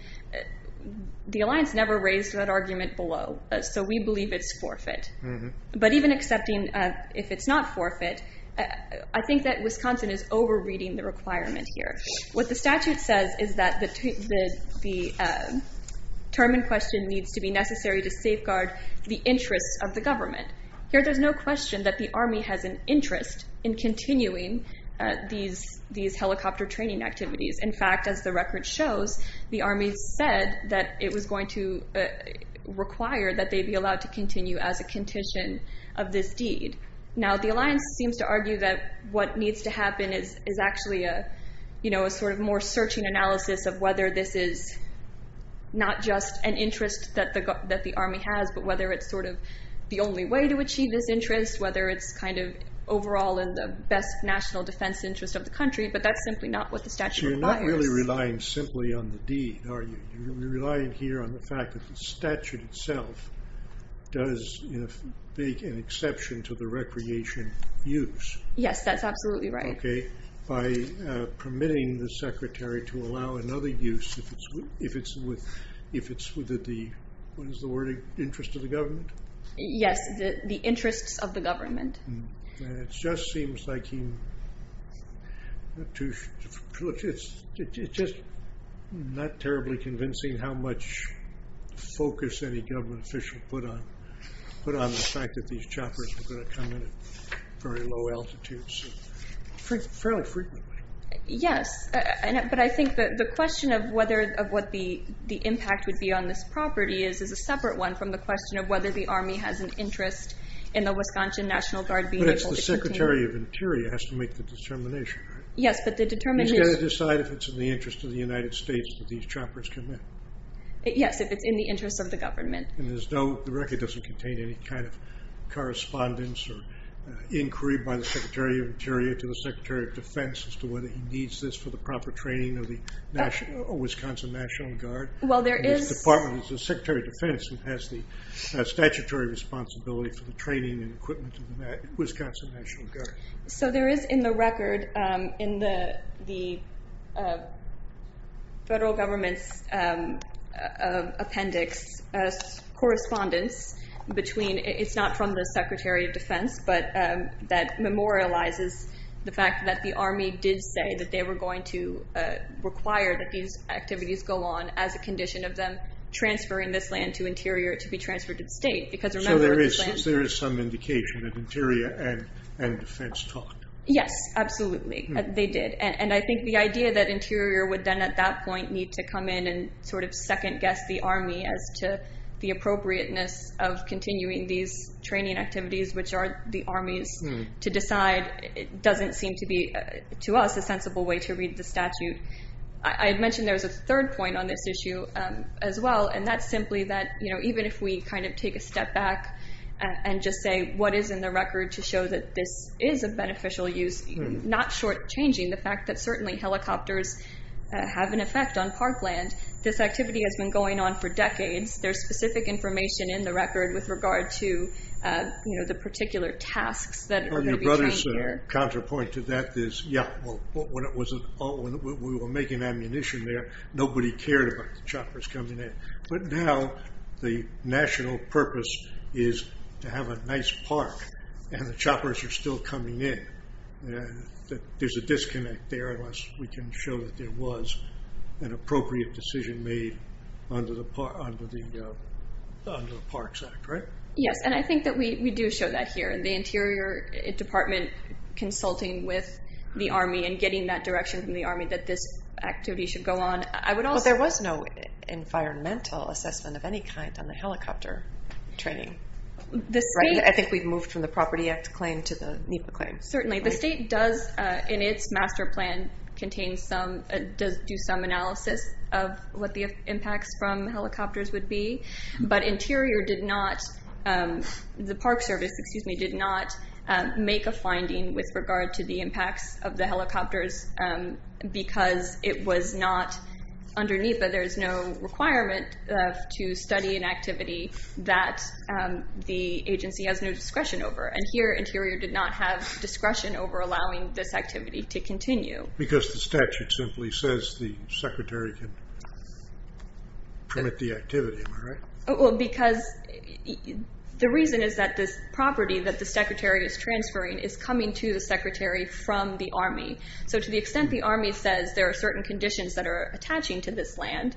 the alliance never raised that argument below. So we believe it's forfeit. But even accepting if it's not forfeit, I think that Wisconsin is over reading the requirement here. What the statute says is that the term in question needs to be necessary to safeguard the interests of the government. Here there's no question that the Army has an interest in continuing these helicopter training activities. In fact, as the record shows, the Army said that it was going to require that they be allowed to continue as a condition of this deed. Now the alliance seems to argue that what needs to happen is actually a sort of more searching analysis of whether this is not just an interest that the Army has, but whether it's sort of the only way to achieve this interest, whether it's kind of overall in the best national defense interest of the country. But that's simply not what the statute requires. You're not really relying simply on the deed, are you? You're relying here on the fact that the statute itself does make an exception to the recreation use. Yes, that's absolutely right. Okay, by permitting the secretary to allow another use if it's with the, what is the word, interest of the government? Yes, the interests of the government. And it just seems like he, it's just not terribly convincing how much focus any government official put on the fact that these choppers were going to come in at very low altitudes, fairly frequently. Yes, but I think that the question of whether, of what the impact would be on this property is a separate one from the question of whether the Army has an interest in the Wisconsin National Guard being able to continue. But it's the Secretary of Interior who has to make the determination, right? Yes, but the determination. He's got to decide if it's in the interest of the United States that these choppers come in. Yes, if it's in the interest of the government. And there's no, the record doesn't contain any kind of correspondence or inquiry by the Secretary of Interior to the Secretary of Defense as to whether he needs this for the proper training of the Wisconsin National Guard? Well, there is. This department is the Secretary of Defense and has the statutory responsibility for the training and equipment of the Wisconsin National Guard. So there is in the record, in the federal government's appendix, correspondence between, it's not from the Secretary of Defense, but that memorializes the fact that the Army did say that they were going to require that these activities go on as a condition of them transferring this land to Interior to be transferred to the state. Because remember, this land- So there is some indication that Interior and Defense talked. Yes, absolutely, they did. And I think the idea that Interior would then at that point need to come in and sort of second guess the Army as to the appropriateness of continuing these training activities, which are the Army's to decide, it doesn't seem to be, to us, a sensible way to read the statute. I had mentioned there was a third point on this issue as well. And that's simply that even if we kind of take a step back and just say, what is in the record to show that this is a beneficial use, not shortchanging the fact that certainly helicopters have an effect on parkland. This activity has been going on for decades. There's specific information in the record with regard to the particular tasks that are gonna be trained here. Well, your brother's counterpoint to that is, yeah, well, when we were making ammunition there, nobody cared about the choppers coming in. But now the national purpose is to have a nice park and the choppers are still coming in. There's a disconnect there, unless we can show that there was an appropriate decision made under the Parks Act, right? Yes, and I think that we do show that here. And the Interior Department consulting with the Army and getting that direction from the Army that this activity should go on. I would also- Well, there was no environmental assessment of any kind on the helicopter training. I think we've moved from the Property Act claim to the NEPA claim. Certainly, the state does, in its master plan, contains some, does do some analysis of what the impacts from helicopters would be. But Interior did not, the Park Service, excuse me, did not make a finding with regard to the impacts of the helicopters because it was not, under NEPA there's no requirement to study an activity that the agency has no discretion over. And here, Interior did not have discretion over allowing this activity to continue. Because the statute simply says the Secretary can permit the activity, am I right? Well, because the reason is that this property that the Secretary is transferring is coming to the Secretary from the Army. So to the extent the Army says there are certain conditions that are attaching to this land,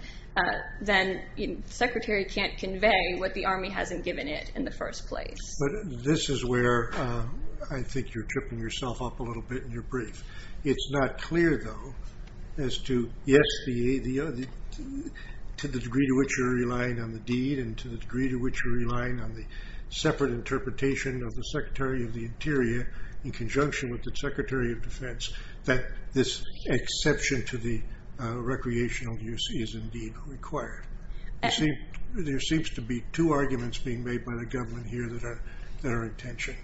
then the Secretary can't convey what the Army hasn't given it in the first place. But this is where I think you're tripping yourself up a little bit in your brief. It's not clear, though, as to, yes, to the degree to which you're relying on the deed and to the degree to which you're relying on the separate interpretation of the Secretary of the Interior in conjunction with the Secretary of Defense that this exception to the recreational use is indeed required. There seems to be two arguments being made by the government here that are in tension.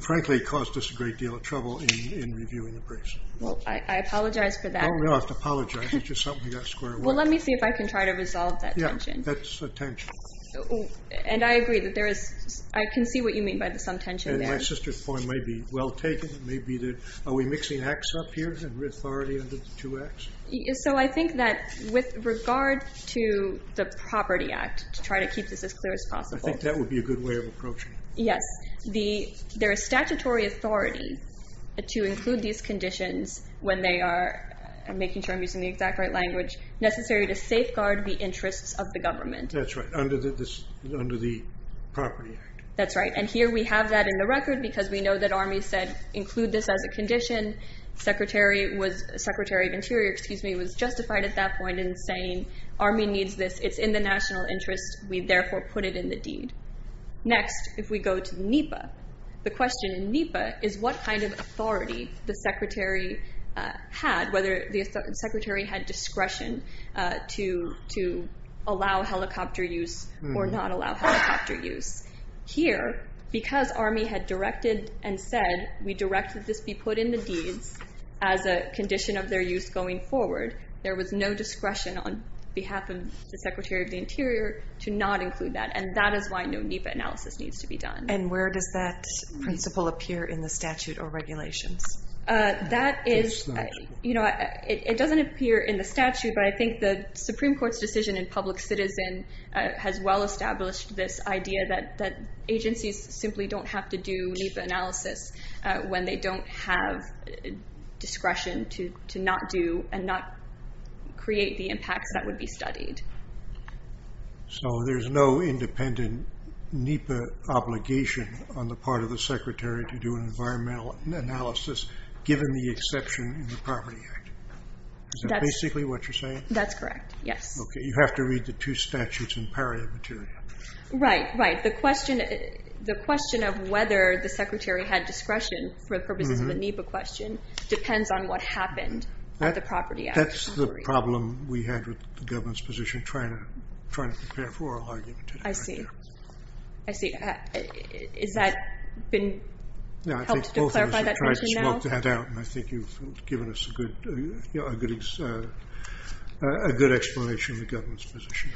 Frankly, it caused us a great deal of trouble in reviewing the briefs. Well, I apologize for that. Oh, you don't have to apologize. It's just something we got square away. Well, let me see if I can try to resolve that tension. Yeah, that's a tension. And I agree that there is, I can see what you mean by the some tension there. And my sister's point may be well taken. It may be that, are we mixing acts up here and reauthority under the two acts? So I think that with regard to the Property Act, to try to keep this as clear as possible. I think that would be a good way of approaching it. Yes. There is statutory authority to include these conditions when they are, I'm making sure I'm using the exact right language, necessary to safeguard the interests of the government. That's right, under the Property Act. That's right. And here we have that in the record because we know that ARME said include this as a condition. Secretary of Interior, excuse me, was justified at that point in saying, ARME needs this, it's in the national interest, we therefore put it in the deed. Next, if we go to NEPA, the question in NEPA is what kind of authority the Secretary had, whether the Secretary had discretion to allow helicopter use or not allow helicopter use. Here, because ARME had directed and said, we directed this be put in the deeds as a condition of their use going forward, there was no discretion on behalf of the Secretary of the Interior to not include that. And that is why no NEPA analysis needs to be done. And where does that principle appear in the statute or regulations? That is, you know, it doesn't appear in the statute, but I think the Supreme Court's decision in public citizen has well established this idea that agencies simply don't have to do NEPA analysis when they don't have discretion to not do and not create the impacts that would be studied. So there's no independent NEPA obligation on the part of the Secretary to do an environmental analysis, given the exception in the Property Act. Is that basically what you're saying? That's correct, yes. Okay, you have to read the two statutes in paria materia. Right, right. The question of whether the Secretary had discretion for the purposes of a NEPA question depends on what happened at the Property Act. That's the problem we had with the government's position trying to prepare for our argument today. I see. I see. Has that been helped to clarify that question now? I think you've given us a good explanation of the government's position.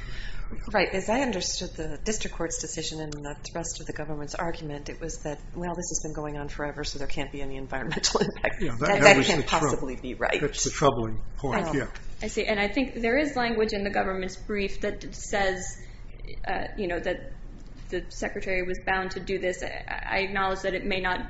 Right, as I understood the district court's decision and the rest of the government's argument, it was that, well, this has been going on forever, so there can't be any environmental impact. That can't possibly be right. That's the troubling point, yeah. I see, and I think there is language in the government's brief that says that the Secretary was bound to do this. I acknowledge that it may not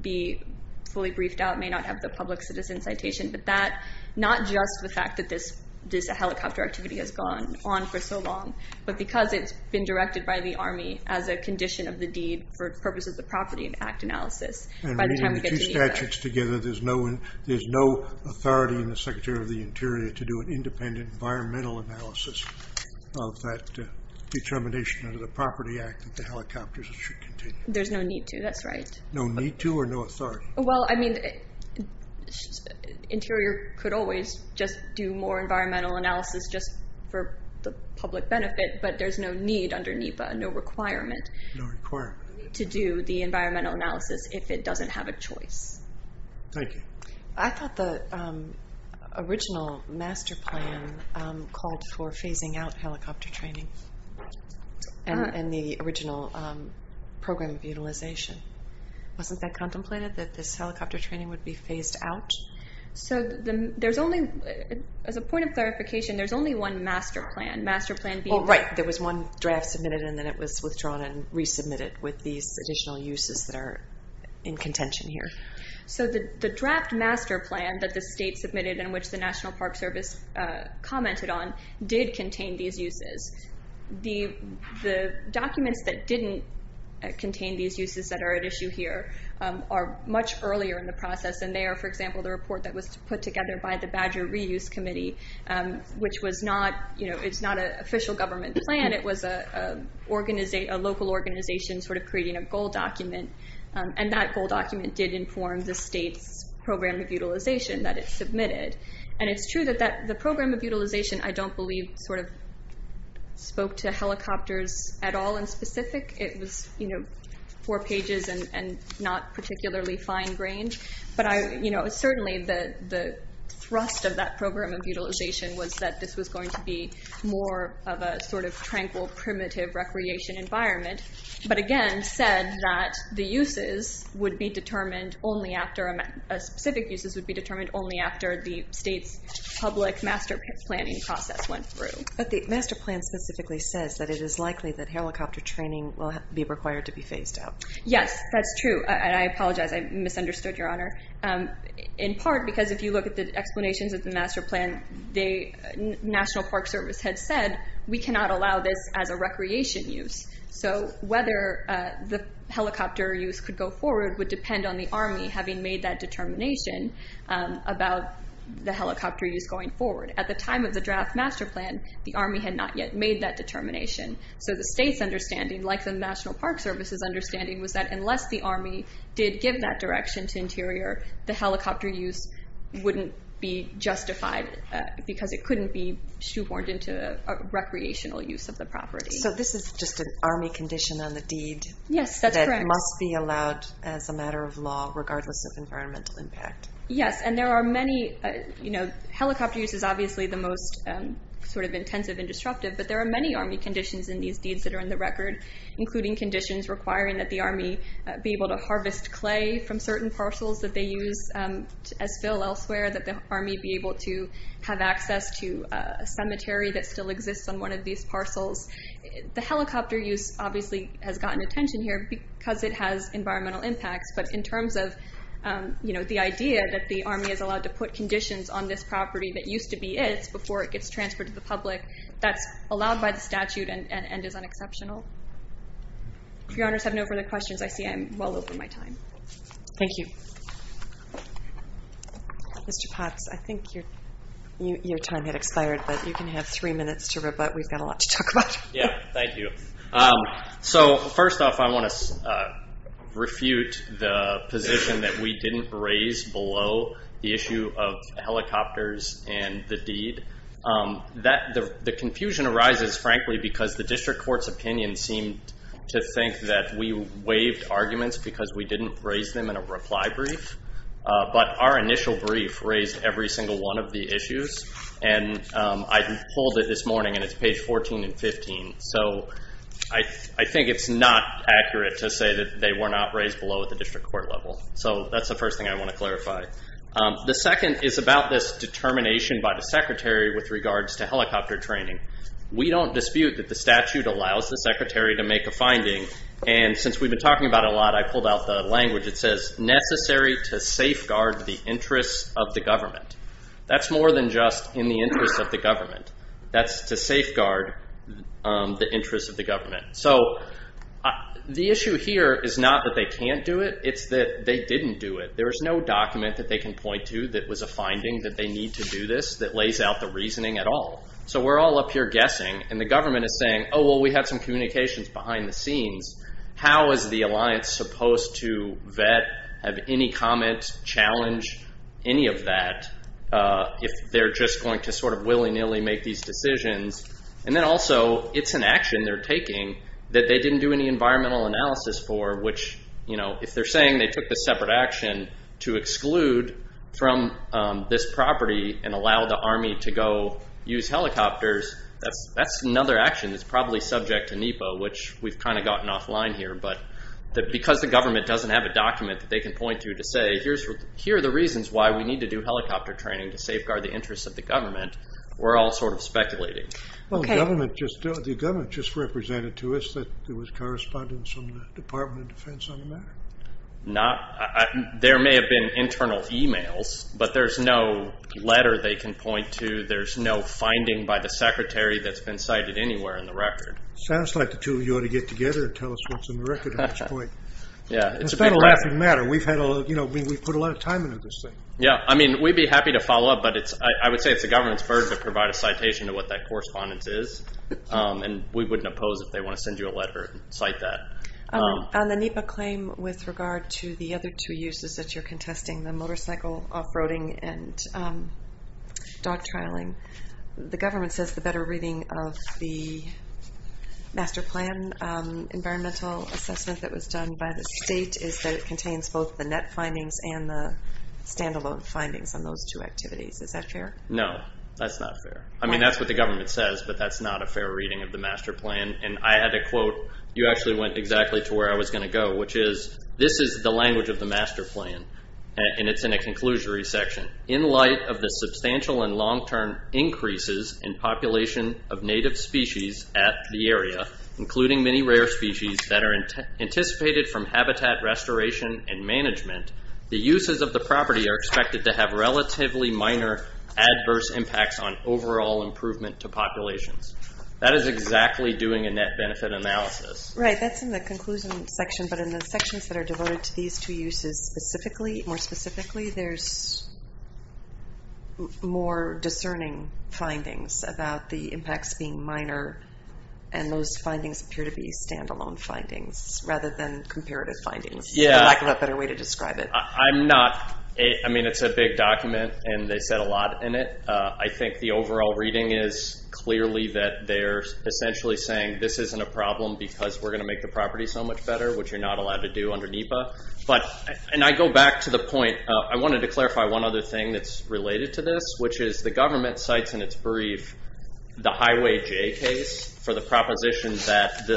be fully briefed out, may not have the public citizen citation, but that, not just the fact that this helicopter activity has gone on for so long, but because it's been directed by the Army as a condition of the deed for purposes of the Property Act analysis. And reading the two statutes together, there's no authority in the Secretary of the Interior to do an independent environmental analysis of that determination under the Property Act that the helicopters should continue. There's no need to, that's right. No need to or no authority? Well, I mean, Interior could always just do more environmental analysis just for the public benefit, but there's no need under NEPA, no requirement. No requirement. To do the environmental analysis if it doesn't have a choice. Thank you. I thought the original master plan called for phasing out helicopter training and the original program of utilization. Wasn't that contemplated, that this helicopter training would be phased out? So there's only, as a point of clarification, there's only one master plan. Master plan being? Oh, right. There was one draft submitted and then it was withdrawn and resubmitted with these additional uses that are in contention here. So the draft master plan that the state submitted and which the National Park Service commented on did contain these uses. The documents that didn't contain these uses that are at issue here are much earlier in the process. And they are, for example, the report that was put together by the Badger Reuse Committee. Which was not, it's not an official government plan. It was a local organization creating a goal document. And that goal document did inform the state's program of utilization that it submitted. And it's true that the program of utilization, I don't believe spoke to helicopters at all in specific. It was four pages and not particularly fine-grained. But certainly the thrust of that program of utilization was that this was going to be more of a sort of tranquil, primitive recreation environment. But again, said that the uses would be determined only after, specific uses would be determined only after the state's public master planning process went through. But the master plan specifically says that it is likely that helicopter training will be required to be phased out. Yes, that's true. And I apologize, I misunderstood, Your Honor. In part, because if you look at the explanations of the master plan, the National Park Service had said, we cannot allow this as a recreation use. So whether the helicopter use could go forward would depend on the Army having made that determination about the helicopter use going forward. At the time of the draft master plan, the Army had not yet made that determination. So the state's understanding, like the National Park Service's understanding, was that unless the Army did give that direction to Interior, the helicopter use wouldn't be justified because it couldn't be shoehorned into a recreational use of the property. So this is just an Army condition on the deed. Yes, that's correct. That must be allowed as a matter of law, regardless of environmental impact. Yes, and there are many, helicopter use is obviously the most sort of intensive and disruptive, but there are many Army conditions in these deeds that are in the record, including conditions requiring that the Army be able to harvest clay from certain parcels that they use as fill elsewhere, that the Army be able to have access to a cemetery that still exists on one of these parcels. The helicopter use obviously has gotten attention here because it has environmental impacts, but in terms of the idea that the Army is allowed to put conditions on this property that used to be it before it gets transferred to the public, that's allowed by the statute and is unexceptional. If your honors have no further questions, I see I'm well over my time. Thank you. Mr. Potts, I think your time had expired, but you can have three minutes to rebut. We've got a lot to talk about. Yeah, thank you. So first off, I want to refute the position that we didn't raise below the issue of helicopters and the deed. The confusion arises, frankly, because the district court's opinion seemed to think that we waived arguments because we didn't raise them in a reply brief. But our initial brief raised every single one of the issues, and I pulled it this morning, and it's page 14 and 15. So I think it's not accurate to say that they were not raised below at the district court level. So that's the first thing I want to clarify. The second is about this determination by the secretary with regards to helicopter training. We don't dispute that the statute allows the secretary to make a finding, and since we've been talking about it a lot, I pulled out the language that says necessary to safeguard the interests of the government. That's more than just in the interest of the government. That's to safeguard the interests of the government. So the issue here is not that they can't do it, it's that they didn't do it. There is no document that they can point to that was a finding that they need to do this that lays out the reasoning at all. So we're all up here guessing, and the government is saying, oh, well, we have some communications behind the scenes. How is the alliance supposed to vet, have any comment, challenge any of that if they're just going to sort of willy-nilly make these decisions? And then also, it's an action they're taking that they didn't do any environmental analysis for, which if they're saying they took this separate action to exclude from this property and allow the army to go use helicopters, that's another action that's probably subject to NEPA, which we've kind of gotten offline here, but because the government doesn't have a document that they can point to to say, here are the reasons why we need to do helicopter training to safeguard the interests of the government, we're all sort of speculating. Well, the government just represented to us that there was correspondence from the Department of Defense on the matter. There may have been internal emails, but there's no letter they can point to, there's no finding by the secretary that's been cited anywhere in the record. Sounds like the two of you ought to get together and tell us what's in the record at this point. Yeah, it's a bit of a laughing matter. We've put a lot of time into this thing. Yeah, I mean, we'd be happy to follow up, but I would say it's the government's burden to provide a citation of what that correspondence is, and we wouldn't oppose if they want to send you a letter and cite that. On the NEPA claim with regard to the other two uses that you're contesting, the motorcycle off-roading and dog trialing, the government says the better reading of the master plan environmental assessment that was done by the state is that it contains both the NEP findings and the standalone findings on those two activities. Is that fair? No, that's not fair. I mean, that's what the government says, but that's not a fair reading of the master plan. And I had to quote, you actually went exactly to where I was going to go, which is this is the language of the master plan, and it's in a conclusionary section. In light of the substantial and long-term increases in population of native species at the area, including many rare species that are anticipated from habitat restoration and management, the uses of the property are expected to have relatively minor adverse impacts on overall improvement to populations. That is exactly doing a net benefit analysis. Right, that's in the conclusion section, but in the sections that are devoted to these two uses specifically, more specifically, there's more discerning findings about the impacts being minor, and those findings appear to be standalone findings rather than comparative findings. Yeah. I'm not, I mean, it's a big document, and they said a lot in it. I think the overall reading is clearly that they're essentially saying this isn't a problem because we're going to make the property so much better, which you're not allowed to do under NEPA, but, and I go back to the point, I wanted to clarify one other thing that's related to this, which is the government cites in its brief the Highway J case for the proposition that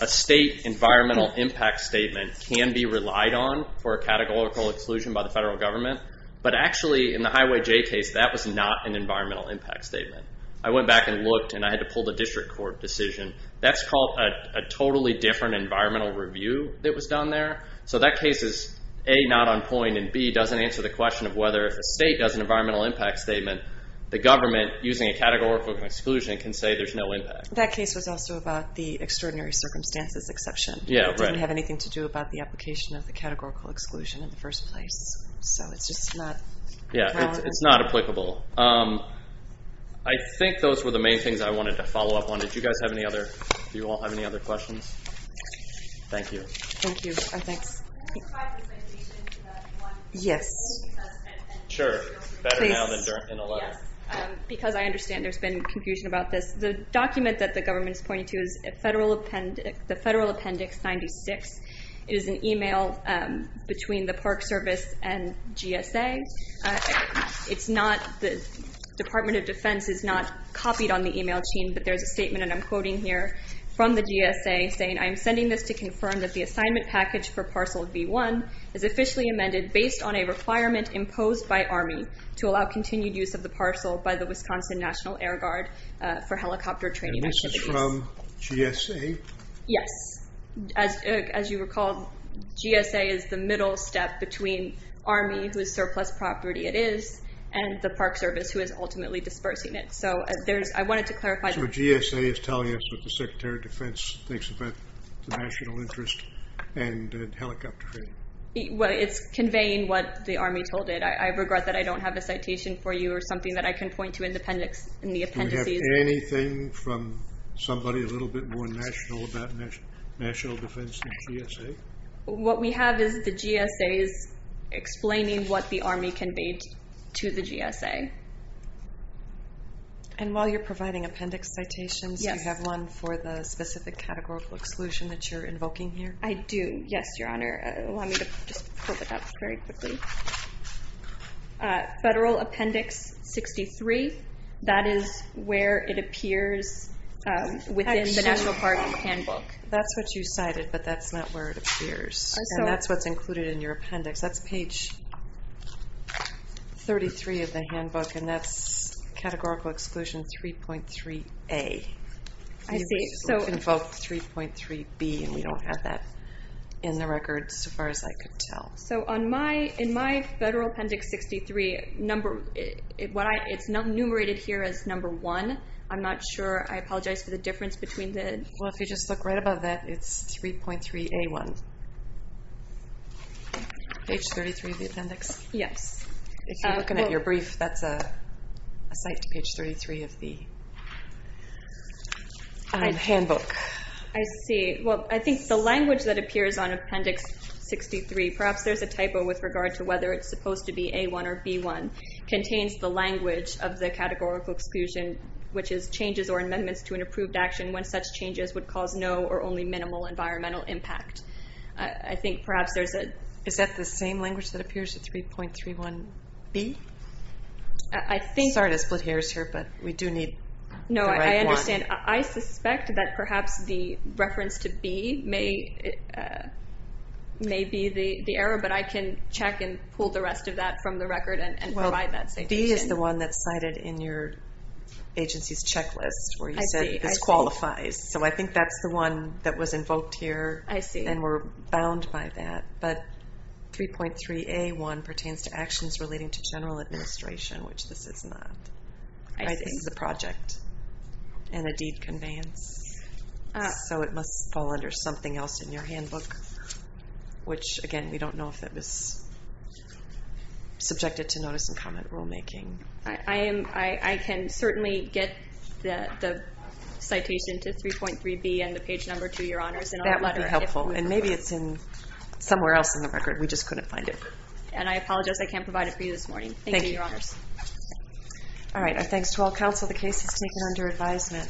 a state environmental impact statement can be relied on for a categorical exclusion by the federal government, but actually, in the Highway J case, that was not an environmental impact statement. I went back and looked, and I had to pull the district court decision. That's called a totally different environmental review that was done there, so that case is A, not on point, and B, doesn't answer the question of whether if a state does an environmental impact statement, the government, using a categorical exclusion, can say there's no impact. That case was also about the extraordinary circumstances exception. Yeah, right. It didn't have anything to do about the application of the categorical exclusion in the first place, so it's just not. Yeah, it's not applicable. I think those were the main things I wanted to follow up on. Did you guys have any other, do you all have any other questions? Thank you. Thank you. Thanks. Can you provide the citation to that one? Yes. Sure. Better now than in a letter. Because I understand there's been confusion about this. The document that the government's pointing to is the Federal Appendix 96. It is an email between the Park Service and GSA. It's not, the Department of Defense is not copied on the email chain, but there's a statement, and I'm quoting here, from the GSA saying, I am sending this to confirm that the assignment package for parcel V1 is officially amended based on a requirement imposed by Army to allow continued use of the parcel by the Wisconsin National Air Guard for helicopter training activities. And this is from GSA? Yes. As you recall, GSA is the middle step between Army, whose surplus property it is, and the Park Service, who is ultimately dispersing it. I wanted to clarify that. So GSA is telling us what the Secretary of Defense thinks about the national interest and helicopter training? Well, it's conveying what the Army told it. I regret that I don't have a citation for you or something that I can point to in the appendices. Do we have anything from somebody a little bit more national about national defense than GSA? What we have is the GSA's explaining what the Army conveyed to the GSA. And while you're providing appendix citations, you have one for the specific categorical exclusion that you're invoking here? I do, yes, Your Honor. Allow me to just pull it up very quickly. Federal Appendix 63, that is where it appears within the National Park Handbook. That's what you cited, but that's not where it appears. And that's what's included in your appendix. That's page 33 of the handbook, and that's Categorical Exclusion 3.3A. I see, so- You invoked 3.3B, and we don't have that in the record, so far as I could tell. So in my Federal Appendix 63, it's not enumerated here as number one. I'm not sure, I apologize for the difference between the- Well, if you just look right above that, it's 3.3A1. Page 33 of the appendix? Yes. If you're looking at your brief, that's a cite to page 33 of the handbook. I see, well, I think the language that appears on Appendix 63, perhaps there's a typo with regard to whether it's supposed to be A1 or B1, contains the language of the categorical exclusion, which is changes or amendments to an approved action when such changes would cause no or only minimal environmental impact. I think perhaps there's a- B? I think- Sorry to split hairs here, but we do need the right one. No, I understand. I suspect that perhaps the reference to B may be the error, but I can check and pull the rest of that from the record and provide that citation. Well, B is the one that's cited in your agency's checklist, where you said this qualifies. So I think that's the one that was invoked here, and we're bound by that. But 3.3A1 pertains to actions relating to general administration, which this is not. I think it's a project and a deed conveyance, so it must fall under something else in your handbook, which, again, we don't know if it was subjected to notice and comment rulemaking. I can certainly get the citation to 3.3B and the page number to your honors in our letter, if we prefer. That would be helpful, and maybe it's somewhere else in the record. We just couldn't find it. And I apologize, I can't provide it for you this morning. Thank you, your honors. All right, our thanks to all counsel. The case is taken under advisement.